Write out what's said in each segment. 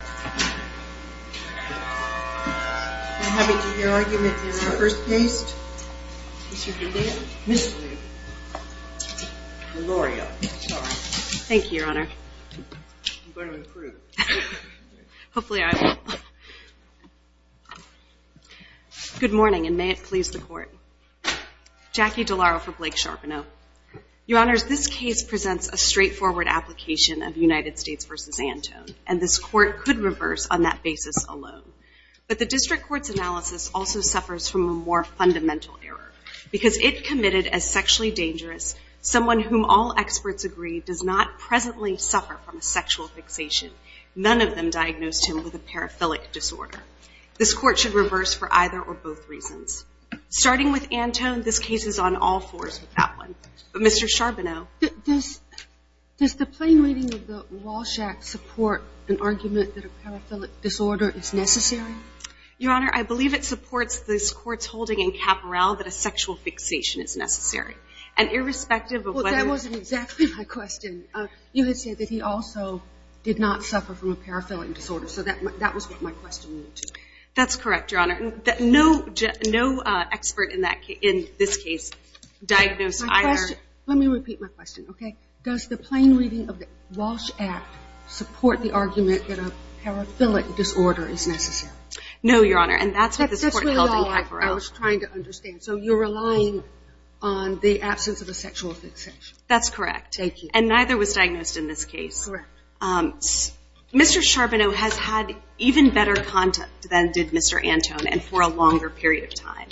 Good morning and may it please the Court. Jackie DeLauro for Blake Charboneau. Your Honors, this case presents a straightforward application of United States v. Antone, and this Court could reverse on that basis alone. But the District Court's analysis also suffers from a more fundamental error. Because it committed as sexually dangerous, someone whom all experts agree does not presently suffer from a sexual fixation, none of them diagnosed him with a paraphilic disorder. This Court should reverse for either or both reasons. Starting with Antone, this case is on all fours with that one. But Mr. Charboneau? Does the plain reading of the Walsh Act support an argument that a paraphilic disorder is necessary? Your Honor, I believe it supports this Court's holding in Caporal that a sexual fixation is necessary. And irrespective of whether... Well, that wasn't exactly my question. You had said that he also did not suffer from a paraphilic disorder, so that was what my question was. That's correct, Your Honor. No expert in this case diagnosed either... Let me repeat my question, okay? Does the plain reading of the Walsh Act support the argument that a paraphilic disorder is necessary? No, Your Honor, and that's what this Court held in Caporal. That's what I was trying to understand. So you're relying on the absence of a sexual fixation? That's correct. And neither was diagnosed in this case. Mr. Charboneau has had even better contact than did Mr. Antone and for a longer period of time.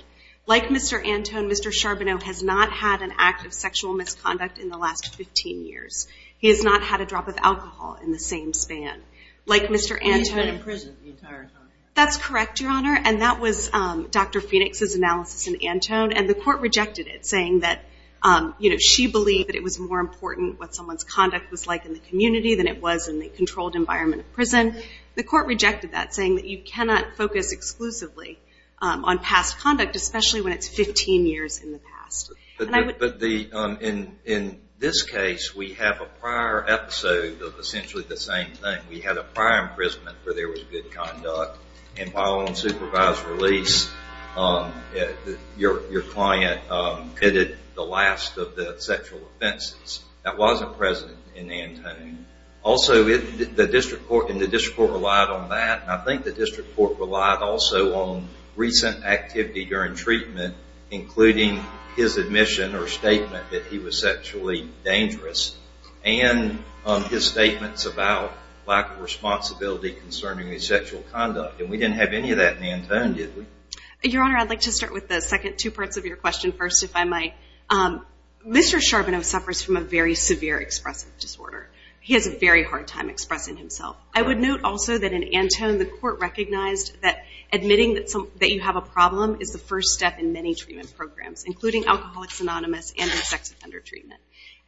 Like Mr. Antone, Mr. Charboneau has not had an act of sexual misconduct in the last 15 years. He has not had a drop of alcohol in the same span. Like Mr. Antone... He's been in prison the entire time. That's correct, Your Honor, and that was Dr. Phoenix's analysis in Antone, and the Court rejected it, saying that, you know, she believed that it was more important what someone's conduct was like in the community than it was in the controlled environment of prison. The Court rejected that, saying that you cannot focus exclusively on past conduct, especially when it's 15 years in the past. But in this case, we have a prior episode of essentially the same thing. We had a prior imprisonment where there was good conduct, and while on supervised release, your client committed the last of the sexual offenses. That wasn't present in Antone. Also, the District Court relied on that, and I think the District Court relied also on activity during treatment, including his admission or statement that he was sexually dangerous, and his statements about lack of responsibility concerning his sexual conduct, and we didn't have any of that in Antone, did we? Your Honor, I'd like to start with the second two parts of your question first, if I might. Mr. Charboneau suffers from a very severe expressive disorder. He has a very hard time expressing himself. I would note also that in Antone, the Court recognized that admitting that you have a problem is the first step in many treatment programs, including Alcoholics Anonymous and sex offender treatment,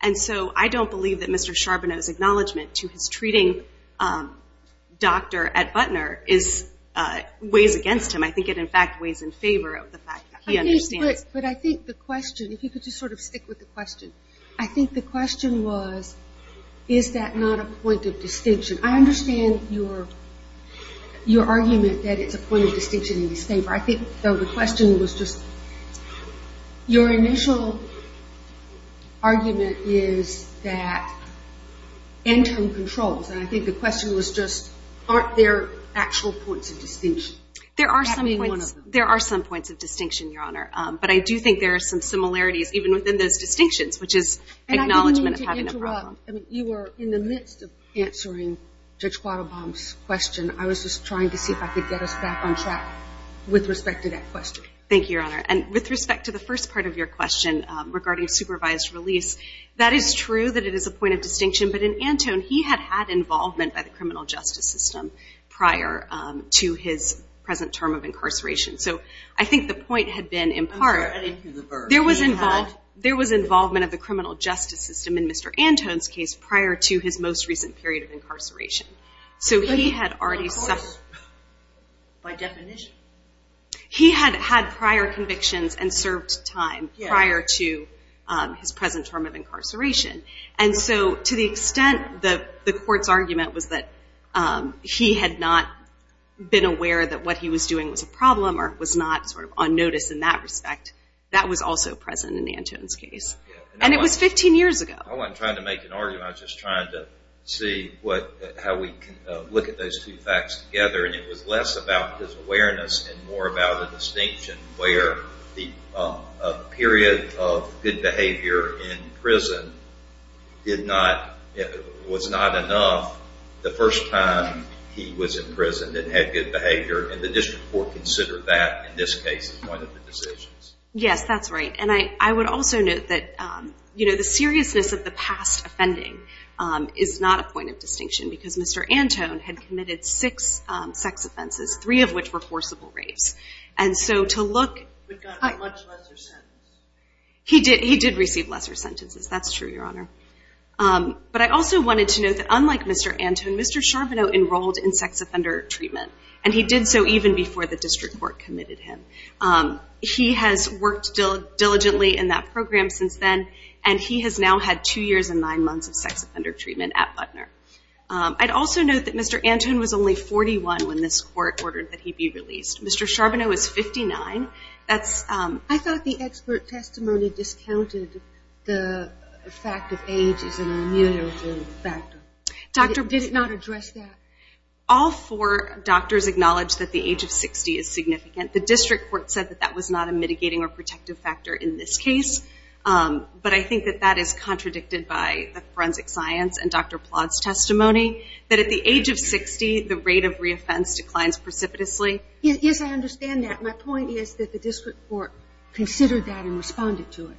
and so I don't believe that Mr. Charboneau's acknowledgement to his treating doctor at Butner weighs against him. I think it, in fact, weighs in favor of the fact that he understands. But I think the question, if you could just sort of stick with the question, I think the question was, is that not a point of your argument that it's a point of distinction in his favor? I think, though, the question was just, your initial argument is that Antone controls, and I think the question was just, aren't there actual points of distinction? There are some points, there are some points of distinction, Your Honor, but I do think there are some similarities even within those distinctions, which is acknowledgement of having a problem. And I didn't mean to interrupt. I mean, you were in the midst of answering Judge Quattlebaum's question. I was just trying to see if I could get us back on track with respect to that question. Thank you, Your Honor. And with respect to the first part of your question regarding supervised release, that is true that it is a point of distinction, but in Antone, he had had involvement by the criminal justice system prior to his present term of incarceration. So I think the point had been, in part, there was involvement of the criminal justice system in Mr. Antone's case prior to his most recent period of incarceration. So he had already suffered. By definition. He had had prior convictions and served time prior to his present term of incarceration. And so to the extent that the court's argument was that he had not been aware that what he was doing was a problem or was not sort of on notice in that respect, that was also present in Antone's case. And it was 15 years ago. I wasn't trying to make an argument. I was just trying to see how we can look at those two facts together. And it was less about his awareness and more about a distinction where the period of good behavior in prison was not enough the first time he was in prison and had good behavior. And the Yes, that's right. And I would also note that the seriousness of the past offending is not a point of distinction because Mr. Antone had committed six sex offenses, three of which were forcible rapes. And so to look... He did receive lesser sentences. That's true, Your Honor. But I also wanted to note that unlike Mr. Antone, Mr. Charbonneau enrolled in sex offender treatment at Butler. I'd also note that Mr. Antone was only 41 when this court ordered that he be released. Mr. Charbonneau is 59. I thought the expert testimony discounted the fact that age is an immutable factor. Did it not address that? All four doctors acknowledged that age of 60 is significant. The district court said that that was not a mitigating or protective factor in this case. But I think that that is contradicted by the forensic science and Dr. Plott's testimony that at the age of 60, the rate of re-offense declines precipitously. Yes, I understand that. My point is that the district court considered that and responded to it.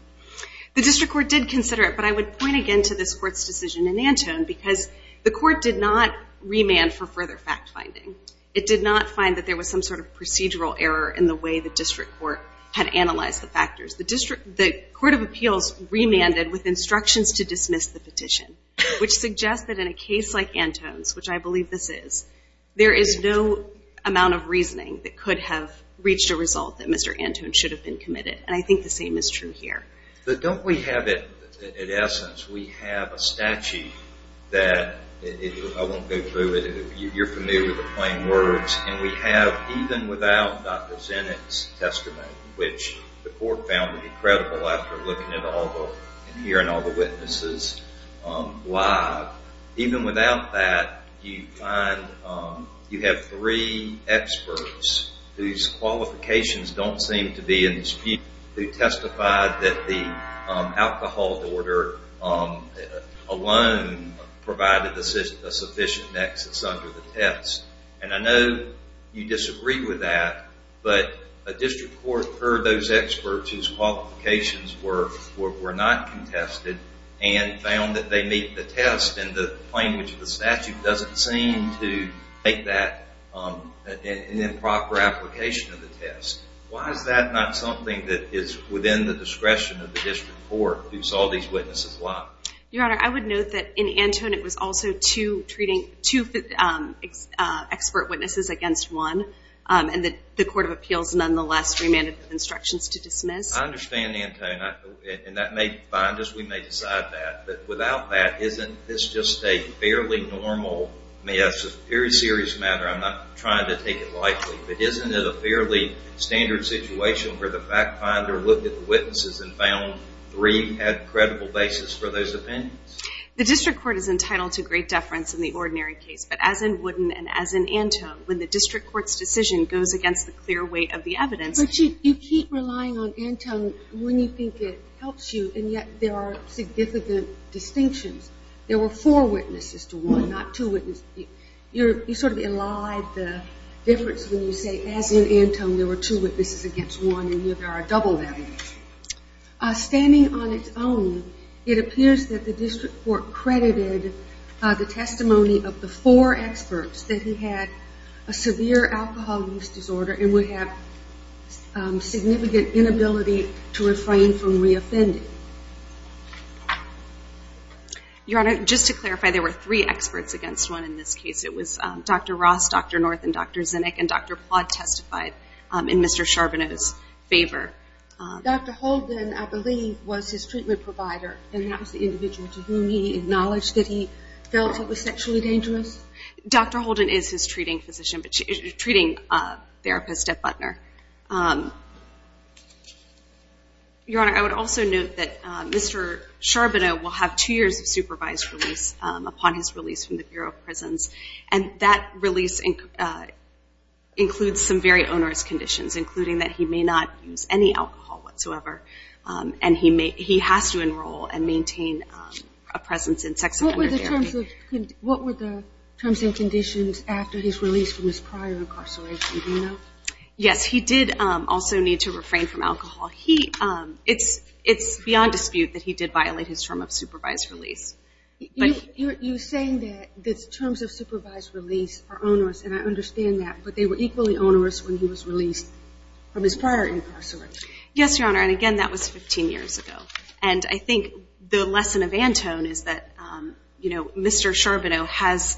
The district court did consider it. But I would point again to this court's decision in Antone because the court did not remand for further fact-finding. It did not find that there was some sort of procedural error in the way the district court had analyzed the factors. The Court of Appeals remanded with instructions to dismiss the petition, which suggests that in a case like Antone's, which I believe this is, there is no amount of reasoning that could have reached a result that Mr. Antone should have been committed. And I think the same is true here. But don't we have it, in essence, we have a statute that, I won't go through it, you're familiar with the plain words, and we have, even without Dr. Zinnick's testimony, which the court found to be credible after looking at all the, and hearing all the witnesses live, even without that, you find, you have three experts whose qualifications don't seem to be in dispute who testified that the alcohol order alone provided a sufficient nexus under the test. And I know you disagree with that, but a district court heard those experts whose qualifications were not contested and found that they meet the test, and the plain language of the statute doesn't seem to make that an improper application of the test. Why is that not something that is within the discretion of the district court, who saw these witnesses live? Your Honor, I would note that in Antone it was also two treating, two expert witnesses against one, and the Court of Appeals nonetheless remanded with instructions to dismiss. I understand Antone, and that may find us, we may decide that. But without that, isn't this just a fairly normal, I mean that's a very serious matter, I'm not trying to take it lightly, but isn't it a fairly standard situation where the fact finder looked at the witnesses and found three had credible basis for those opinions? The district court is entitled to great deference in the ordinary case, but as in Wooden and as in Antone, when the district court's decision goes against the clear weight of the evidence... But you keep relying on Antone when you think it helps you, and yet there are significant distinctions. There were four witnesses to one, not two witnesses. You sort of elide the difference when you say, as in Antone, there were two witnesses against one, and yet there are double evidence. Standing on its own, it appears that the district court credited the testimony of the four experts that he had a severe alcohol use disorder and would have significant inability to refrain from reoffending. Your Honor, just to clarify, there were three experts against one in this case. It was Dr. Ross, Dr. North, and Dr. Zinnick, and Dr. Plod testified in Mr. Charbonneau's favor. Dr. Holden, I believe, was his treatment provider, and that was the individual to whom he acknowledged that he felt it was sexually dangerous? Dr. Holden is his treating physician, treating therapist at Butner. Your Honor, I would also note that Mr. Charbonneau will have two years of supervised release upon his release from the Bureau of Prisons, and that release includes some very onerous conditions, including that he may not use any alcohol whatsoever, and he has to enroll and maintain a presence in sex offender therapy. What were the terms and conditions after his release from his prior incarceration? Do you know? Yes, he did also need to refrain from alcohol. It's beyond dispute that he did violate his term of supervised release. You're saying that the terms of supervised release are onerous, and I understand that, but they were equally onerous when he was released from his prior incarceration. Yes, Your Honor, and again, that was 15 years ago, and I think the lesson of Antone is that Mr. Charbonneau has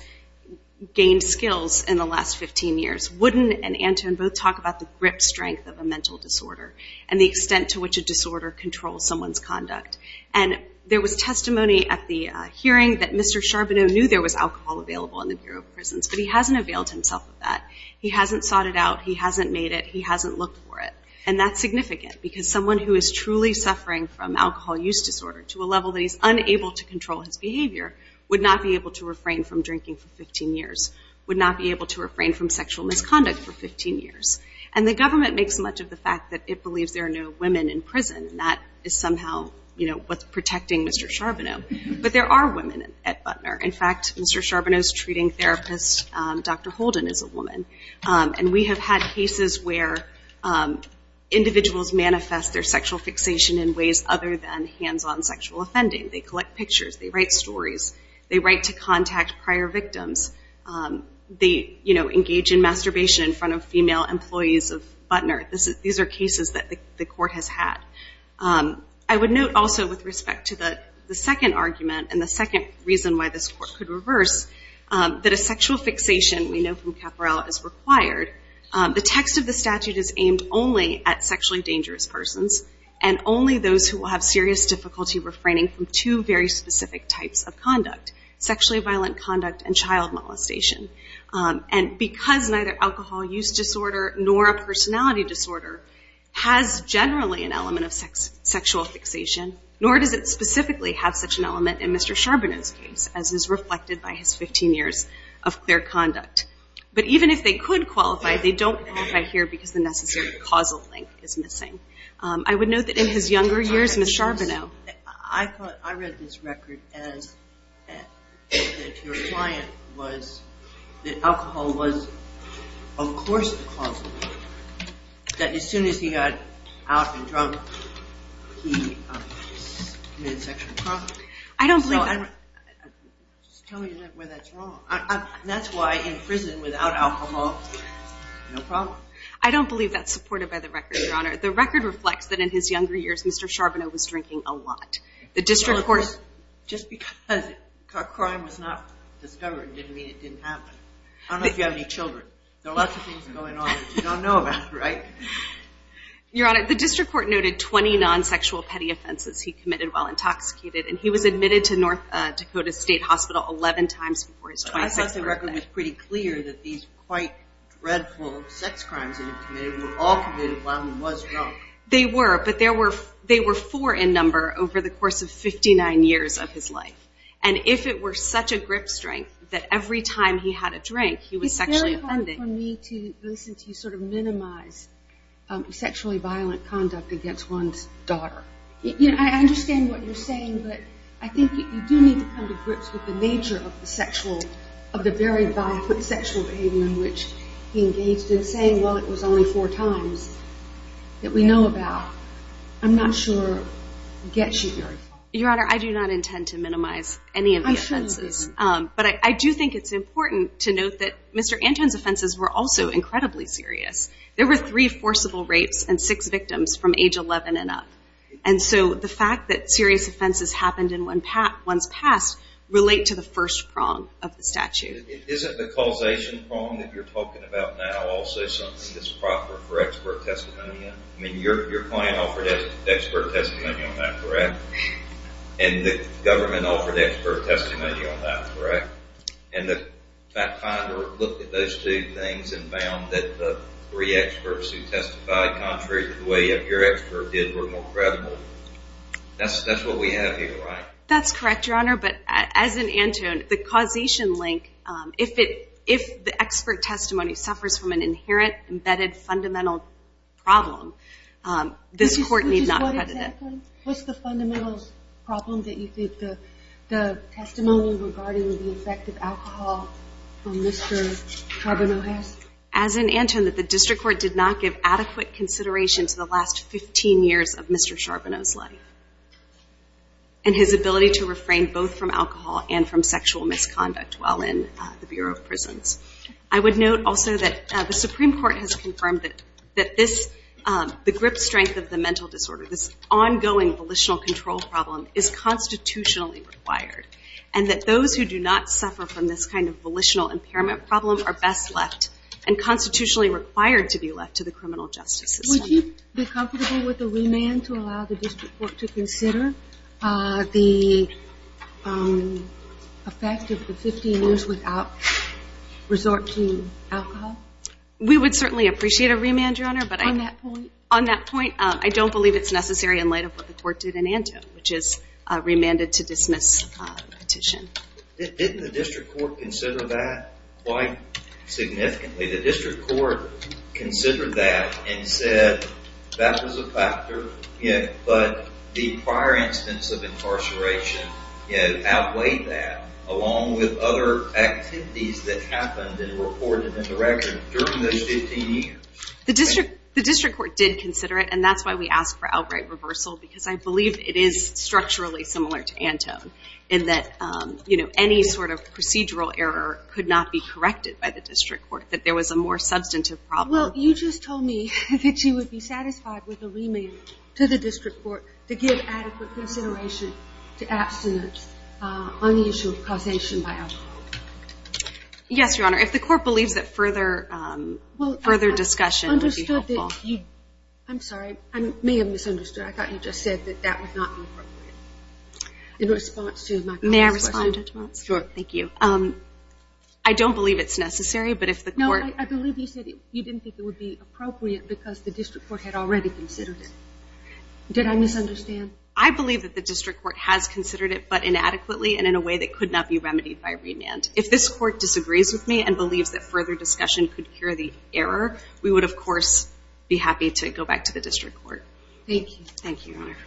gained skills in the last 15 years. Wooden and Antone both talk about the grip strength of a mental disorder, and the extent to which a disorder controls someone's conduct, and there was testimony at the hearing that Mr. Charbonneau knew there was alcohol available in the Bureau of Prisons, but he hasn't availed himself of that. He hasn't sought it out. He hasn't made it. He hasn't looked for it, and that's significant, because someone who is truly suffering from alcohol use disorder to a level that he's unable to control his behavior would not be able to refrain from drinking for 15 years, would not be able to refrain from sexual misconduct for 15 years, and the government makes much of the fact that it believes there are no women in prison, and that is somehow what's protecting Mr. Charbonneau, but there are women at Butner. In fact, Mr. Charbonneau's treating therapist, Dr. Holden, is a woman, and we have had cases where individuals manifest their sexual fixation in ways other than hands-on sexual offending. They collect pictures. They write stories. They write to contact prior victims. They engage in masturbation in front of female employees of Butner. These are cases that the court has had. I would note also with respect to the second argument and the second reason why this court could reverse that a sexual fixation, we know from Caporell, is required. The text of the statute is aimed only at sexually dangerous persons and only those who will have serious difficulty refraining from two very specific types of conduct, sexually violent conduct and child molestation. And because neither alcohol use disorder nor a personality disorder has generally an element of sexual fixation, nor does it specifically have such an element in Mr. Charbonneau's case, as is reflected by his 15 years of clear conduct. But even if they could qualify, they don't qualify here because the necessary causal link is missing. I would note that in his younger years, Mr. Charbonneau... I read this record as that your client was, that alcohol was of course a causal link. That as soon as he got out and drunk, he committed sexual assault. I don't believe that. I'm just telling you where that's wrong. That's why in prison, without alcohol, no problem. I don't believe that's supported by the record, Your Honor. The record reflects that in his younger years, Mr. Charbonneau was drinking a lot. Just because a crime was not discovered didn't mean it didn't happen. I don't know if you have any children. There are lots of things going on that you don't know about, right? Your Honor, the district court noted 20 non-sexual petty offenses he committed while intoxicated, and he was admitted to North Dakota State Hospital 11 times before his 26th birthday. The record was pretty clear that these quite dreadful sex crimes that he committed were all committed while he was drunk. They were, but there were four in number over the course of 59 years of his life. And if it were such a grip strength that every time he had a drink, he was sexually offended... It's very hard for me to listen to you sort of minimize sexually violent conduct against one's daughter. You know, I understand what you're saying, but I think you do need to come to grips with the nature of the sexual... of the very violent sexual behavior in which he engaged in, saying, well, it was only four times that we know about. I'm not sure it gets you very far. Your Honor, I do not intend to minimize any of the offenses. But I do think it's important to note that Mr. Anton's offenses were also incredibly serious. There were three forcible rapes and six victims from age 11 and up. And so the fact that serious offenses happened in one's past relate to the first prong of the statute. Isn't the causation prong that you're talking about now also something that's proper for expert testimony? I mean, your client offered expert testimony on that, correct? And the government offered expert testimony on that, correct? And the fact finder looked at those two things and found that the three experts who testified contrary to the way your expert did were more credible. That's what we have here, right? That's correct, Your Honor. But as in Anton, the causation link, if the expert testimony suffers from an inherent, embedded, fundamental problem, this court need not credit it. Exactly. What's the fundamental problem that you think the testimony regarding the effect of alcohol on Mr. Charbonneau has? As in Anton, that the district court did not give adequate consideration to the last 15 years of Mr. Charbonneau's life and his ability to refrain both from alcohol and from sexual misconduct while in the Bureau of Prisons. I would note also that the Supreme Court has confirmed that the grip strength of the mental disorder, this ongoing volitional control problem, is constitutionally required and that those who do not suffer from this kind of volitional impairment problem are best left and constitutionally required to be left to the criminal justice system. Would you be comfortable with a remand to allow the district court to consider the effect of the 15 years without resorting to alcohol? We would certainly appreciate a remand, Your Honor. On that point? On that point, I don't believe it's necessary in light of what the court did in Anton, which is remanded to dismiss petition. Didn't the district court consider that quite significantly? The district court considered that and said that was a factor, but the prior instance of incarceration outweighed that, along with other activities that happened in recorded interaction during those 15 years. The district court did consider it, and that's why we asked for outright reversal, because I believe it is structurally similar to Anton in that any sort of procedural error could not be corrected by the district court, that there was a more substantive problem. Well, you just told me that you would be satisfied with a remand to the district court to give adequate consideration to abstinence on the issue of causation by alcohol. Yes, Your Honor. If the court believes that further discussion would be helpful. I'm sorry. I may have misunderstood. I thought you just said that that would not be appropriate. In response to my colleague's question. May I respond to that? Sure. Thank you. I don't believe it's necessary, but if the court. No, I believe you said you didn't think it would be appropriate because the district court had already considered it. Did I misunderstand? I believe that the district court has considered it, but inadequately and in a way that could not be remedied by remand. If this court disagrees with me and believes that further discussion could cure the error, we would, of course, be happy to go back to the district court. Thank you. Thank you, Your Honor.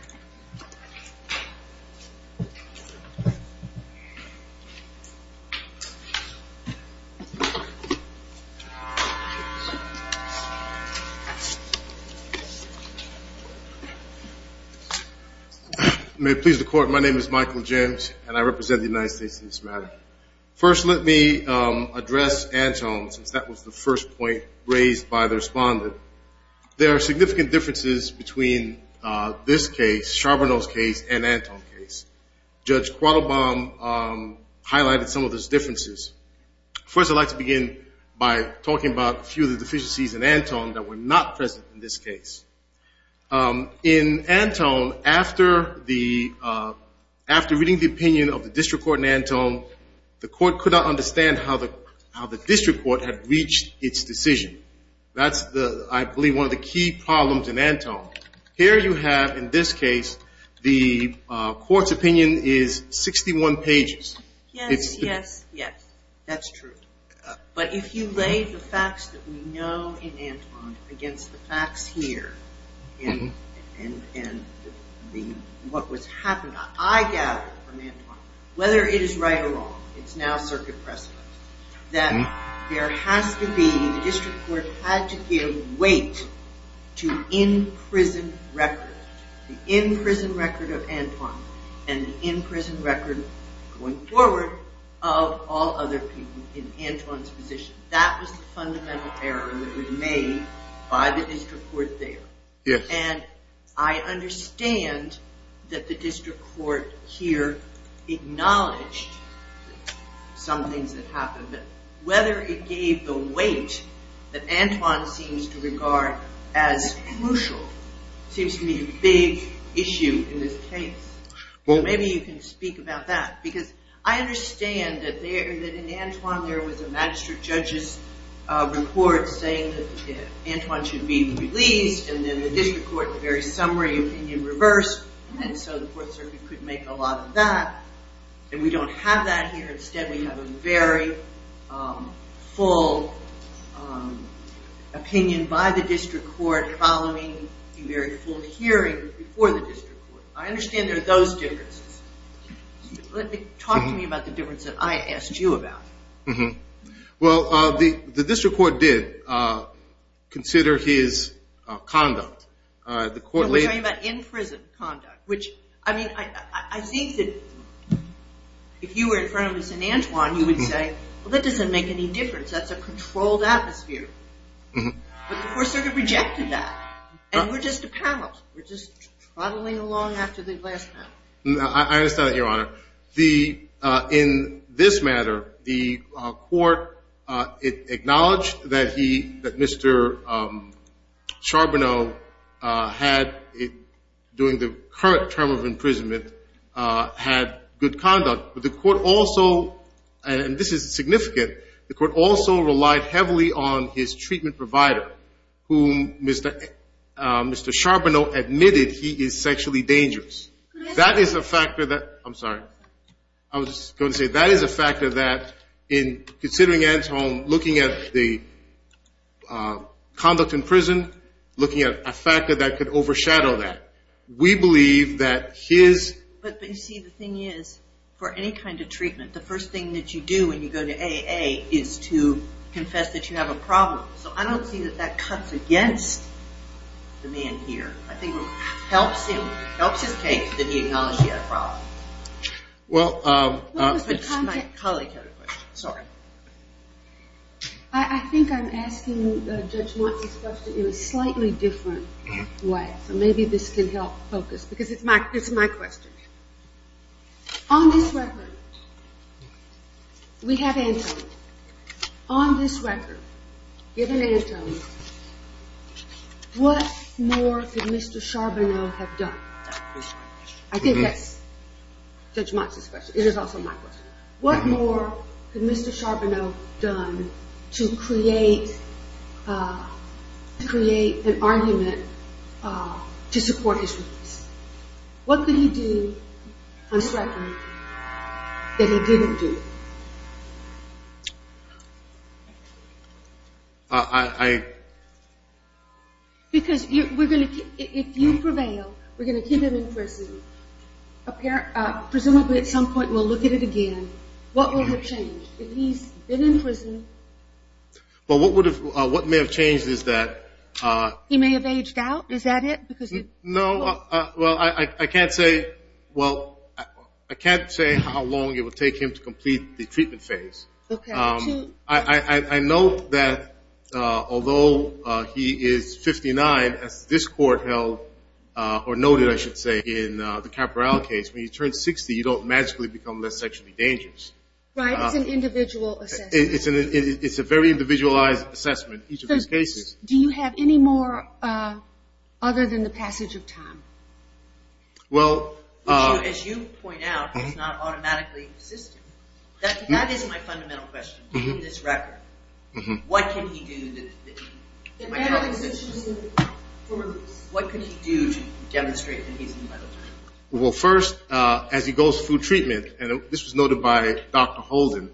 May it please the Court. My name is Michael James, and I represent the United States in this matter. First, let me address Anton since that was the first point raised by the respondent. There are significant differences between this case, Charbonneau's case, and Anton's case. Judge Quattlebaum highlighted some of those differences. First, I'd like to begin by talking about a few of the deficiencies in Anton that were not present in this case. In Anton, after reading the opinion of the district court in Anton, the court could not understand how the district court had reached its decision. That's, I believe, one of the key problems in Anton. Here you have, in this case, the court's opinion is 61 pages. Yes, yes, yes. That's true. But if you lay the facts that we know in Anton against the facts here and what was happening, I gather from Anton, whether it is right or wrong, it's now circuit precedent, that there has to be, the district court had to give weight to in-prison records. The in-prison record of Anton and the in-prison record, going forward, of all other people in Anton's position. That was the fundamental error that was made by the district court there. Yes. And I understand that the district court here acknowledged some things that happened, but whether it gave the weight that Anton seems to regard as crucial seems to be a big issue in this case. Maybe you can speak about that, because I understand that in Anton there was a magistrate judge's report saying that Anton should be released, and then the district court, the very summary opinion reversed, and so the court circuit couldn't make a lot of that. And we don't have that here. Instead, we have a very full opinion by the district court following a very full hearing before the district court. I understand there are those differences. Talk to me about the difference that I asked you about. Well, the district court did consider his conduct. We're talking about in-prison conduct, which, I mean, I think that if you were in front of us in Antwon, you would say, well, that doesn't make any difference. That's a controlled atmosphere. But the court circuit rejected that, and we're just a panel. We're just trottling along after the glass panel. I understand that, Your Honor. In this matter, the court acknowledged that Mr. Charbonneau had, during the current term of imprisonment, had good conduct. But the court also, and this is significant, the court also relied heavily on his treatment provider, whom Mr. Charbonneau admitted he is sexually dangerous. That is a factor that – I'm sorry. I was going to say that is a factor that, in considering Antwon, looking at the conduct in prison, looking at a factor that could overshadow that. We believe that his – But, you see, the thing is, for any kind of treatment, the first thing that you do when you go to AA is to confess that you have a problem. So I don't see that that cuts against the man here. I think it helps him, helps his case that he acknowledged he had a problem. Well, my colleague had a question. Sorry. I think I'm asking Judge Montes' question in a slightly different way. So maybe this can help focus, because it's my question. On this record, we have Antwon. On this record, given Antwon, what more could Mr. Charbonneau have done? I think that's Judge Montes' question. It is also my question. What more could Mr. Charbonneau have done to create an argument to support his release? What could he do, on this record, that he didn't do? Because if you prevail, we're going to keep him in prison. Presumably at some point we'll look at it again. What will have changed if he's been in prison? Well, what may have changed is that – He may have aged out. Is that it? No. Well, I can't say how long it would take him to complete the treatment phase. I know that although he is 59, as this court held – or noted, I should say, in the Caporale case, when you turn 60 you don't magically become less sexually dangerous. Right. It's an individual assessment. It's a very individualized assessment, each of his cases. Do you have any more other than the passage of time? Well – Which, as you point out, does not automatically exist. That is my fundamental question, on this record. What can he do that – What could he do to demonstrate that he's in a better place? Well, first, as he goes through treatment, and this was noted by Dr. Holden,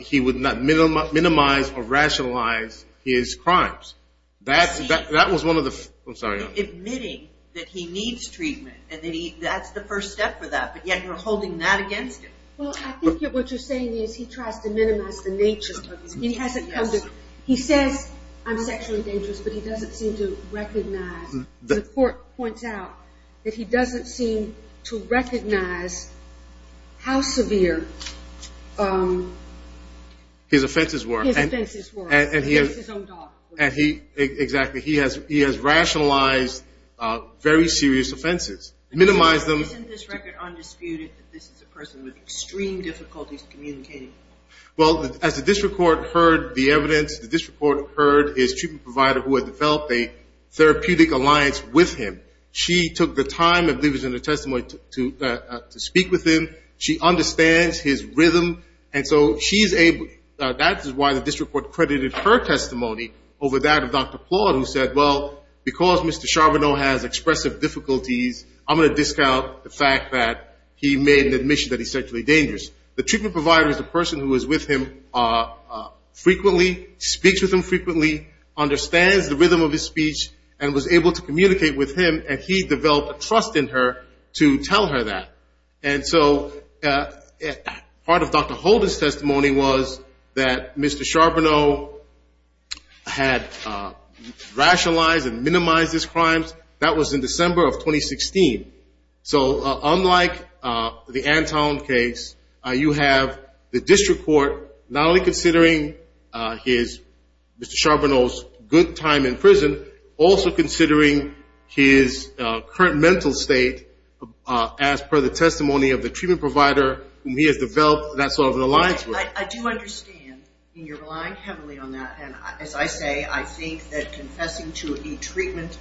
he would not minimize or rationalize his crimes. That was one of the – I'm sorry. Admitting that he needs treatment and that's the first step for that, but yet you're holding that against him. Well, I think what you're saying is he tries to minimize the nature of it. He says, I'm sexually dangerous, but he doesn't seem to recognize – The court points out that he doesn't seem to recognize how severe – His offenses were. His offenses were. Against his own daughter. Exactly. He has rationalized very serious offenses. Minimize them. Isn't this record undisputed that this is a person with extreme difficulties communicating? Well, as the district court heard the evidence, the district court heard his treatment provider who had developed a therapeutic alliance with him. She took the time, I believe it was in her testimony, to speak with him. She understands his rhythm, and so she's able – that is why the district court credited her testimony over that of Dr. Plot, who said, well, because Mr. Charbonneau has expressive difficulties, I'm going to discount the fact that he made an admission that he's sexually dangerous. The treatment provider is the person who is with him frequently, speaks with him frequently, understands the rhythm of his speech, and was able to communicate with him, and he developed a trust in her to tell her that. And so part of Dr. Holden's testimony was that Mr. Charbonneau had rationalized and minimized his crimes. That was in December of 2016. So unlike the Antone case, you have the district court not only considering Mr. Charbonneau's good time in prison, also considering his current mental state as per the testimony of the treatment provider whom he has developed that sort of an alliance with. I do understand, and you're relying heavily on that. And as I say, I think that confessing to a treatment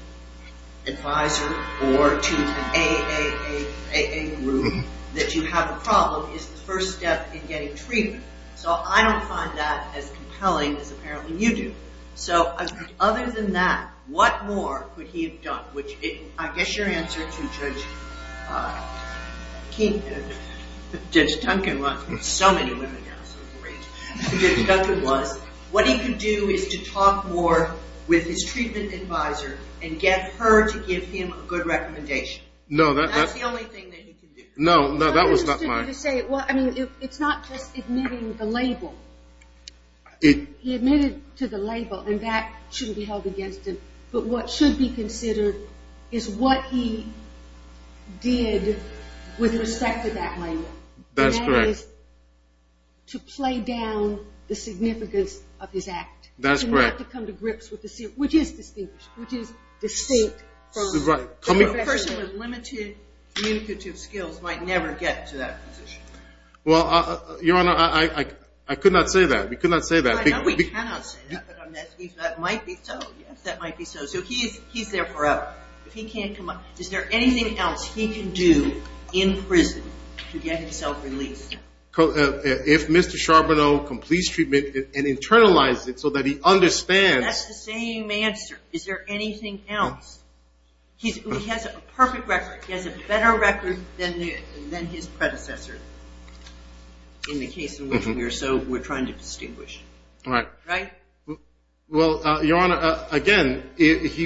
advisor or to an AAA group that you have a problem is the first step in getting treatment. So I don't find that as compelling as apparently you do. So other than that, what more could he have done? I guess your answer to Judge Duncan was – so many women now, so great – your answer to Judge Duncan was what he could do is to talk more with his treatment advisor and get her to give him a good recommendation. That's the only thing that he could do. No, that was not my – It's not just admitting the label. He admitted to the label, and that shouldn't be held against him. But what should be considered is what he did with respect to that label. That's correct. And that is to play down the significance of his act. That's correct. And not to come to grips with the – which is distinguished, which is distinct. Right. A person with limited communicative skills might never get to that position. Well, Your Honor, I could not say that. We could not say that. I know we cannot say that, but that might be so. Yes, that might be so. So he's there forever. Is there anything else he can do in prison to get himself released? If Mr. Charbonneau completes treatment and internalizes it so that he understands. That's the same answer. Is there anything else? He has a perfect record. He has a better record than his predecessor in the case in which we're trying to distinguish. Right. Right? Well, Your Honor, again, if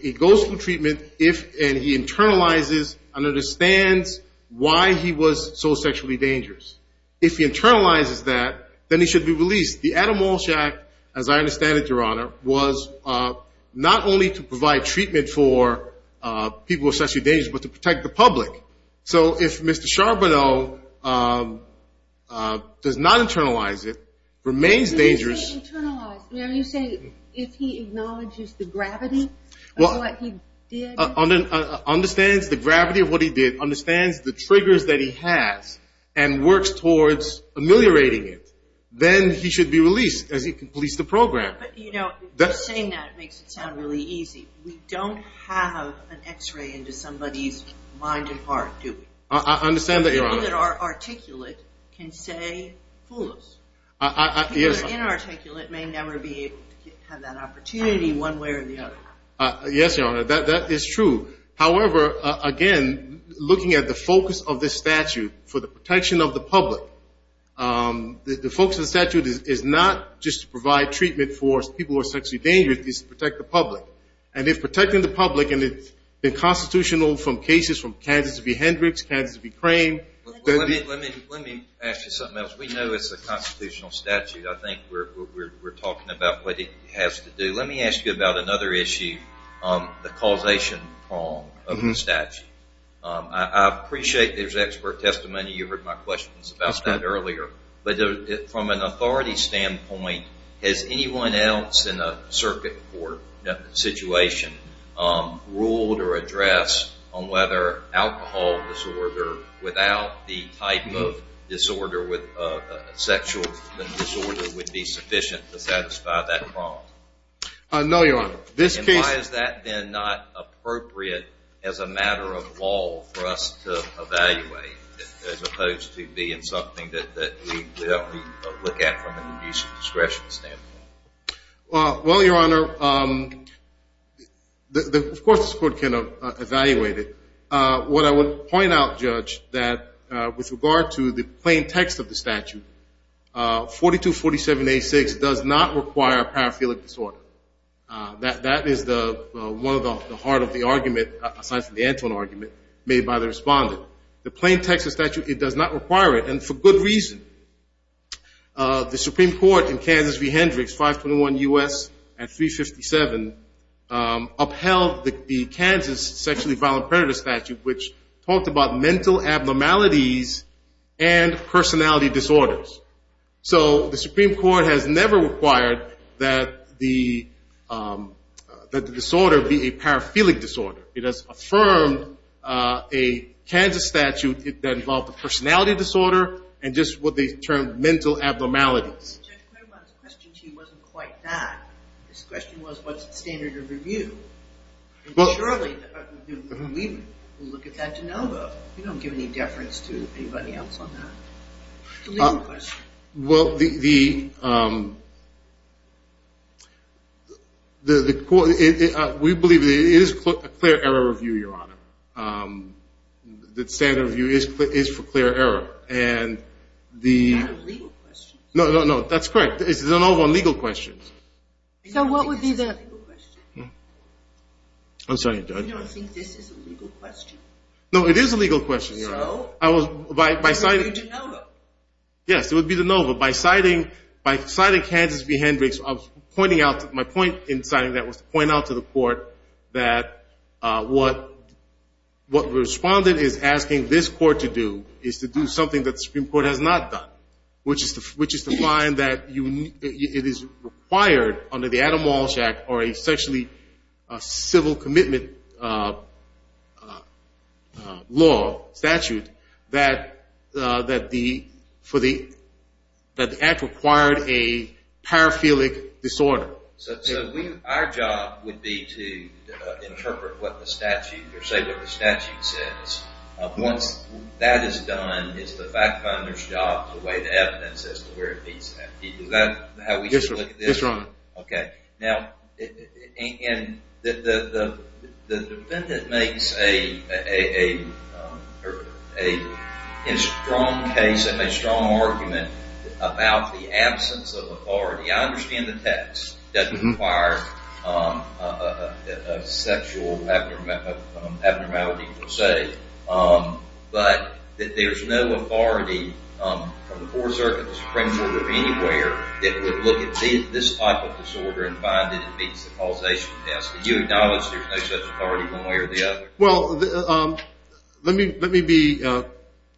he goes through treatment and he internalizes and understands why he was so sexually dangerous, if he internalizes that, then he should be released. The Adam Walsh Act, as I understand it, Your Honor, was not only to provide treatment for people with sexual dangers, but to protect the public. So if Mr. Charbonneau does not internalize it, remains dangerous. When you say internalize, are you saying if he acknowledges the gravity of what he did? Understands the gravity of what he did, understands the triggers that he has, and works towards ameliorating it, then he should be released as he completes the program. But, you know, just saying that makes it sound really easy. We don't have an X-ray into somebody's mind and heart, do we? I understand that, Your Honor. People that are articulate can say, fool us. People that are inarticulate may never be able to have that opportunity one way or the other. Yes, Your Honor, that is true. However, again, looking at the focus of this statute for the protection of the public, the focus of the statute is not just to provide treatment for people who are sexually dangerous, it is to protect the public. And if protecting the public and it's been constitutional from cases from Kansas v. Hendricks, Kansas v. Crane. Let me ask you something else. We know it's a constitutional statute. I think we're talking about what it has to do. Let me ask you about another issue, the causation prong of the statute. I appreciate there's expert testimony. You heard my questions about that earlier. But from an authority standpoint, has anyone else in a circuit court situation ruled or addressed on whether alcohol disorder without the type of sexual disorder would be sufficient to satisfy that prong? No, Your Honor. And why has that been not appropriate as a matter of law for us to evaluate, as opposed to being something that we look at from an abuse of discretion standpoint? Well, Your Honor, of course the court can evaluate it. What I would point out, Judge, that with regard to the plain text of the statute, 4247-86 does not require a paraphilic disorder. That is one of the heart of the argument, aside from the Antoine argument, made by the respondent. The plain text of the statute, it does not require it, and for good reason. The Supreme Court in Kansas v. Hendricks, 521 U.S. and 357, upheld the Kansas sexually violent predator statute, which talked about mental abnormalities and personality disorders. So the Supreme Court has never required that the disorder be a paraphilic disorder. It has affirmed a Kansas statute that involved a personality disorder and just what they termed mental abnormalities. Judge Claiborne's question to you wasn't quite that. His question was, what's the standard of review? And surely we will look at that de novo. We don't give any deference to anybody else on that. The legal question. Well, the court, we believe it is a clear error review, Your Honor. The standard review is for clear error. Is that a legal question? No, no, no, that's correct. It's a de novo legal question. So what would be the legal question? I'm sorry, Judge. You don't think this is a legal question? No, it is a legal question, Your Honor. So? It would be de novo. Yes, it would be de novo. By citing Kansas v. Hendricks, my point in citing that was to point out to the court that what the respondent is asking this court to do is to do something that the Supreme Court has not done, which is to find that it is required under the Adam Walsh Act, or essentially a civil commitment law, statute, that the act required a paraphilic disorder. So our job would be to interpret what the statute, or say what the statute says. Once that is done, it's the fact finder's job to weigh the evidence as to where it meets that. Is that how we should look at this? Yes, Your Honor. Okay. Now, the defendant makes a strong case and a strong argument about the absence of authority. I understand the text doesn't require a sexual abnormality per se, but that there's no authority from the Fourth Circuit, the Supreme Court, or anywhere that would look at this type of disorder and find that it meets the causation test. Do you acknowledge there's no such authority one way or the other? Well, let me be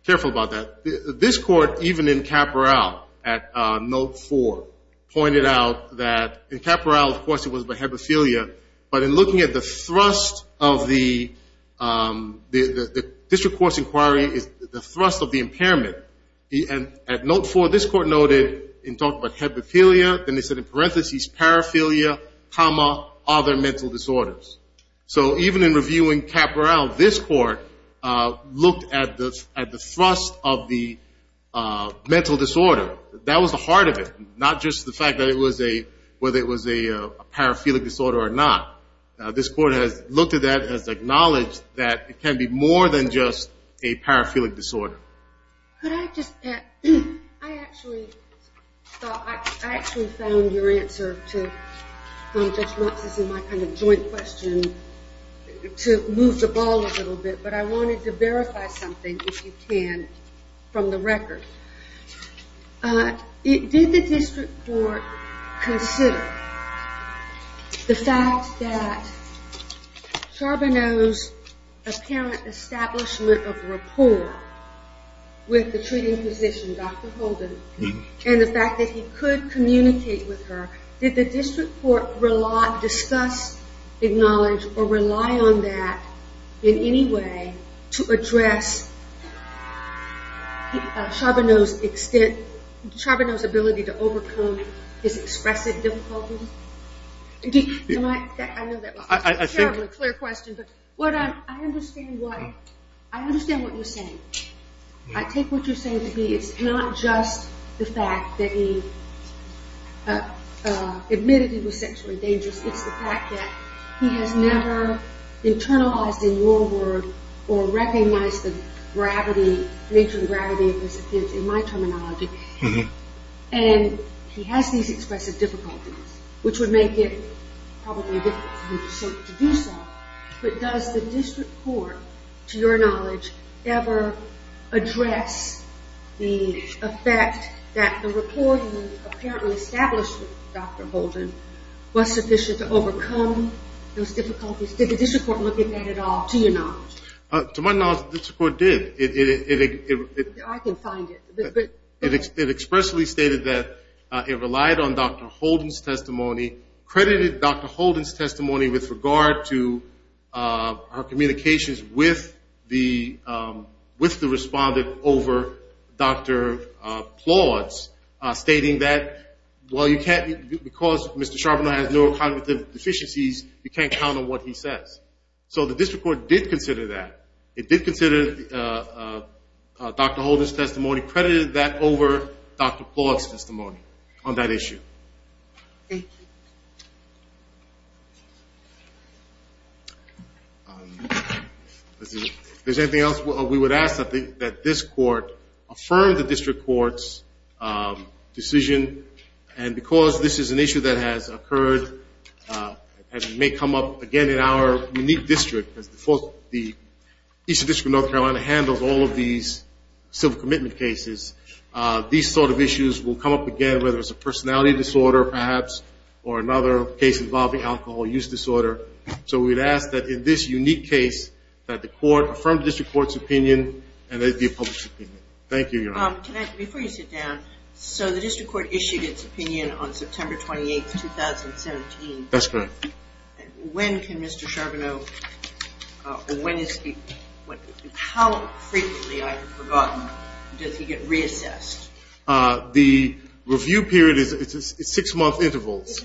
careful about that. This Court, even in Caporal at Note 4, pointed out that in Caporal, of course, it was about hemophilia, but in looking at the thrust of the district court's inquiry is the thrust of the impairment. At Note 4, this Court noted in talking about hemophilia, then it said in parentheses, paraphilia, comma, other mental disorders. So even in reviewing Caporal, this Court looked at the thrust of the mental disorder. That was the heart of it, not just the fact that it was a, whether it was a paraphilic disorder or not. This Court has looked at that, has acknowledged that it can be more than just a paraphilic disorder. Could I just add, I actually thought, I actually found your answer to, just not to see my kind of joint question, to move the ball a little bit, but I wanted to verify something, if you can, from the record. Did the district court consider the fact that Charbonneau's apparent establishment of rapport with the treating physician, Dr. Holden, and the fact that he could communicate with her, did the district court discuss, acknowledge, or rely on that in any way to address Charbonneau's extent, Charbonneau's ability to overcome his expressive difficulties? I know that was a terribly clear question, but I understand what you're saying. I take what you're saying to be, it's not just the fact that he admitted he was sexually dangerous, it's the fact that he has never internalized in your word, or recognized the gravity, nature and gravity of his offense, in my terminology, and he has these expressive difficulties, which would make it probably difficult for him to do so, but does the district court, to your knowledge, ever address the effect that the rapport you apparently established with Dr. Holden was sufficient to overcome those difficulties? Did the district court look at that at all, to your knowledge? To my knowledge, the district court did. I can find it. It expressly stated that it relied on Dr. Holden's testimony, credited Dr. Holden's testimony with regard to her communications with the respondent over Dr. Plaut's, stating that, well, because Mr. Charbonneau has neurocognitive deficiencies, you can't count on what he says. So the district court did consider that. It did consider Dr. Holden's testimony, credited that over Dr. Plaut's testimony on that issue. Thank you. If there's anything else, we would ask that this court affirm the district court's decision, and because this is an issue that has occurred and may come up again in our unique district, because the Eastern District of North Carolina handles all of these civil commitment cases, these sort of issues will come up again, whether it's a personality disorder, perhaps, or another case involving alcohol use disorder. So we'd ask that in this unique case that the court affirm the district court's opinion and that it be a public opinion. Thank you, Your Honor. Before you sit down, so the district court issued its opinion on September 28, 2017. That's correct. When can Mr. Charbonneau, when is he, how frequently, I've forgotten, does he get reassessed? The review period is six-month intervals.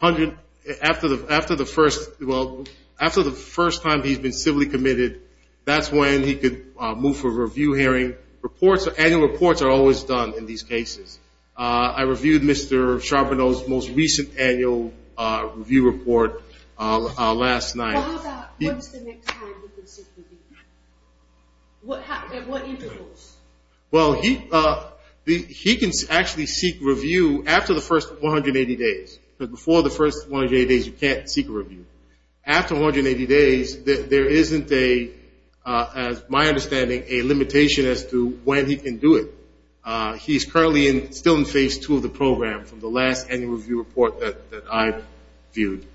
After the first, well, after the first time he's been civilly committed, that's when he could move for review hearing. Reports, annual reports are always done in these cases. I reviewed Mr. Charbonneau's most recent annual review report last night. What about once the next time he can seek review? At what intervals? Well, he can actually seek review after the first 180 days, because before the first 180 days you can't seek review. After 180 days, there isn't a, as my understanding, a limitation as to when he can do it. He's currently still in phase two of the program from the last annual review report that I viewed.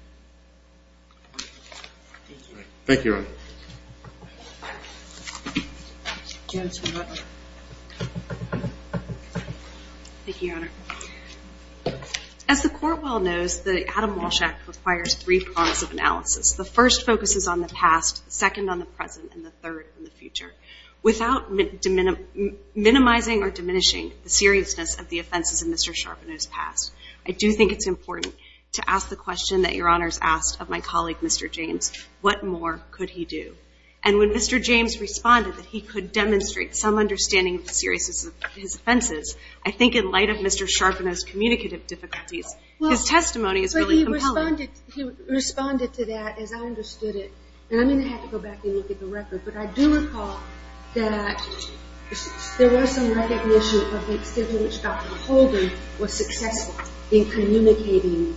Thank you, Your Honor. Thank you, Your Honor. As the court well knows, the Adam Walsh Act requires three prongs of analysis. The first focuses on the past, the second on the present, and the third on the future. Without minimizing or diminishing the seriousness of the offenses in Mr. Charbonneau's past, I do think it's important to ask the question that Your Honor has asked of my colleague, Mr. James, what more could he do? And when Mr. James responded that he could demonstrate some understanding of the seriousness of his offenses, I think in light of Mr. Charbonneau's communicative difficulties, his testimony is really compelling. Well, he responded to that as I understood it, and I'm going to have to go back and look at the record, but I do recall that there was some recognition of the extent to which Dr. Holden was successful in communicating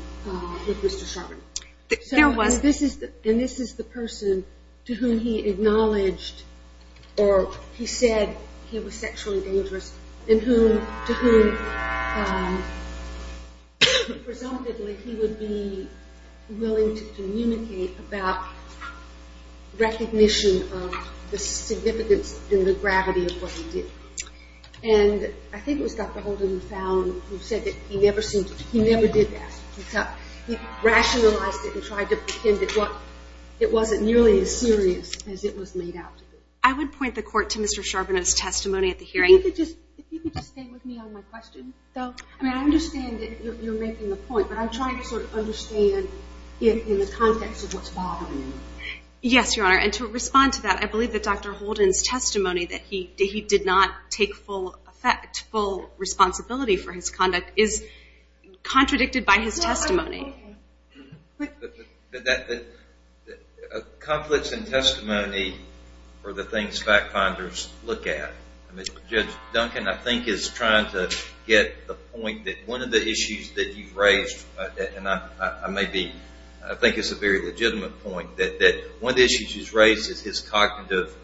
with Mr. Charbonneau. There was. And this is the person to whom he acknowledged or he said he was sexually dangerous and to whom presumptively he would be willing to communicate about recognition of the significance and the gravity of what he did. And I think it was Dr. Holden who said that he never did that. He rationalized it and tried to pretend that it wasn't nearly as serious as it was made out to be. I would point the Court to Mr. Charbonneau's testimony at the hearing. If you could just stay with me on my question, though. I mean, I understand that you're making the point, but I'm trying to sort of understand in the context of what's bothering you. Yes, Your Honor, and to respond to that, I believe that Dr. Holden's testimony that he did not take full effect, full responsibility for his conduct is contradicted by his testimony. Conflicts in testimony are the things fact-finders look at. Judge Duncan, I think, is trying to get the point that one of the issues that you've raised, and I think it's a very legitimate point, that one of the issues he's raised is his cognitive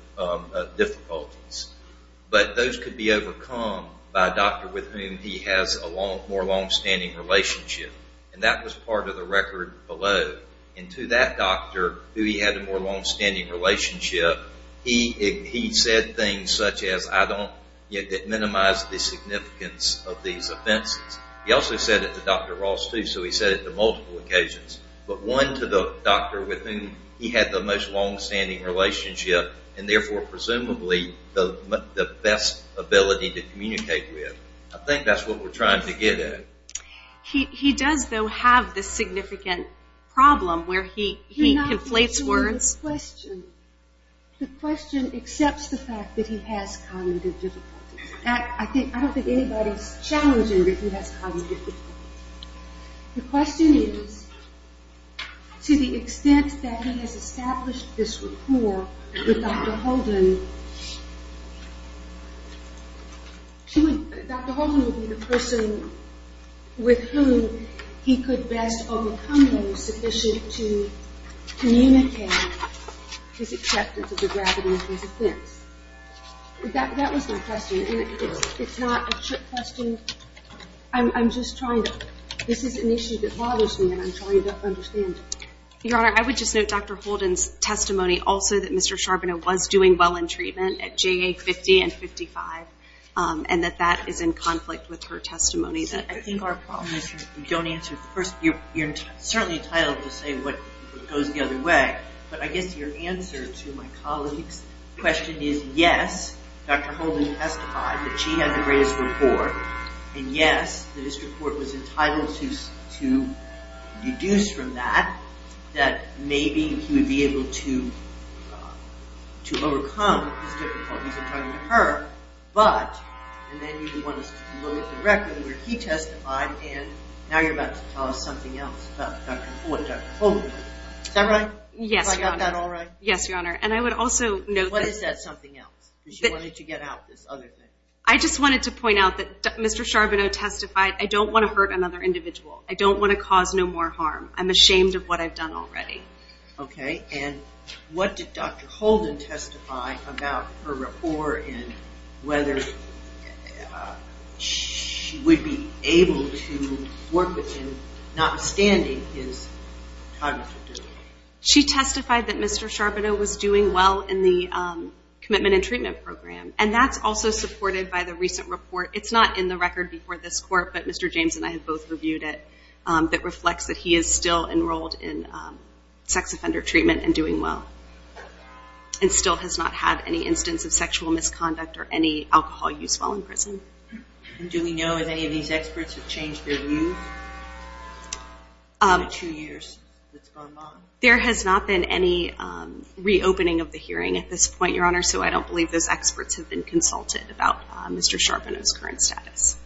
difficulties. But those could be overcome by a doctor with whom he has a more longstanding relationship. And that was part of the record below. And to that doctor who he had a more longstanding relationship, he said things such as, I don't yet minimize the significance of these offenses. He also said it to Dr. Ross, too, so he said it to multiple occasions. But one to the doctor with whom he had the most longstanding relationship and therefore presumably the best ability to communicate with. I think that's what we're trying to get at. He does, though, have this significant problem where he conflates words. You're not answering the question. The question accepts the fact that he has cognitive difficulties. I don't think anybody's challenging that he has cognitive difficulties. The question is, to the extent that he has established this rapport with Dr. Holden, Dr. Holden would be the person with whom he could best overcome those sufficient to communicate his acceptance of the gravity of his offense. That was my question. And it's not a trick question. I'm just trying to ñ this is an issue that bothers me, and I'm trying to understand it. Your Honor, I would just note Dr. Holden's testimony also that Mr. Charbonneau was doing well in treatment at JA 50 and 55, and that that is in conflict with her testimony. I think our problem is you don't answer first. You're certainly entitled to say what goes the other way, but I guess your answer to my colleague's question is yes, Dr. Holden testified that she had the greatest rapport, and yes, the district court was entitled to deduce from that that maybe he would be able to overcome his difficulties in talking to her, but, and then you want us to look at the record where he testified, and now you're about to tell us something else about Dr. Holden. Is that right? Yes, Your Honor. I got that all right? Yes, Your Honor, and I would also note that ñ What is that something else? Because you wanted to get out this other thing. I just wanted to point out that Mr. Charbonneau testified, I don't want to hurt another individual. I don't want to cause no more harm. I'm ashamed of what I've done already. Okay, and what did Dr. Holden testify about her rapport and whether she would be able to work with him notwithstanding his cognitive disability? She testified that Mr. Charbonneau was doing well in the commitment and treatment program, and that's also supported by the recent report. It's not in the record before this court, but Mr. James and I have both reviewed it, that reflects that he is still enrolled in sex offender treatment and doing well and still has not had any instance of sexual misconduct or any alcohol use while in prison. Do we know if any of these experts have changed their views in the two years that's gone by? There has not been any reopening of the hearing at this point, Your Honor, so I don't believe those experts have been consulted about Mr. Charbonneau's current status.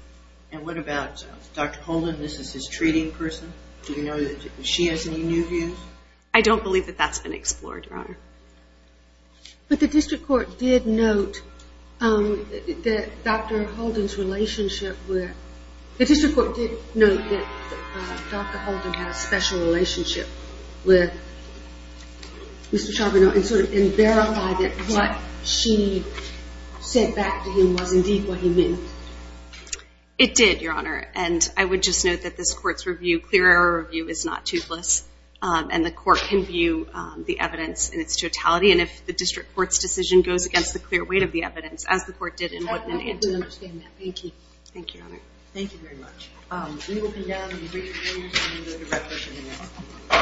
And what about Dr. Holden? This is his treating person. Do you know if she has any new views? I don't believe that that's been explored, Your Honor. But the district court did note that Dr. Holden's relationship withó the district court did note that Dr. Holden had a special relationship with Mr. Charbonneau and sort of verified that what she sent back to him was indeed what he meant. It did, Your Honor. And I would just note that this court's review, clear error review, is not toothless, and the court can view the evidence in its totality. And if the district court's decision goes against the clear weight of the evidence, as the court did in what it didó I completely understand that. Thank you. Thank you, Your Honor. We will condone the brief interviews and the direct questioning of Mr. Charbonneau.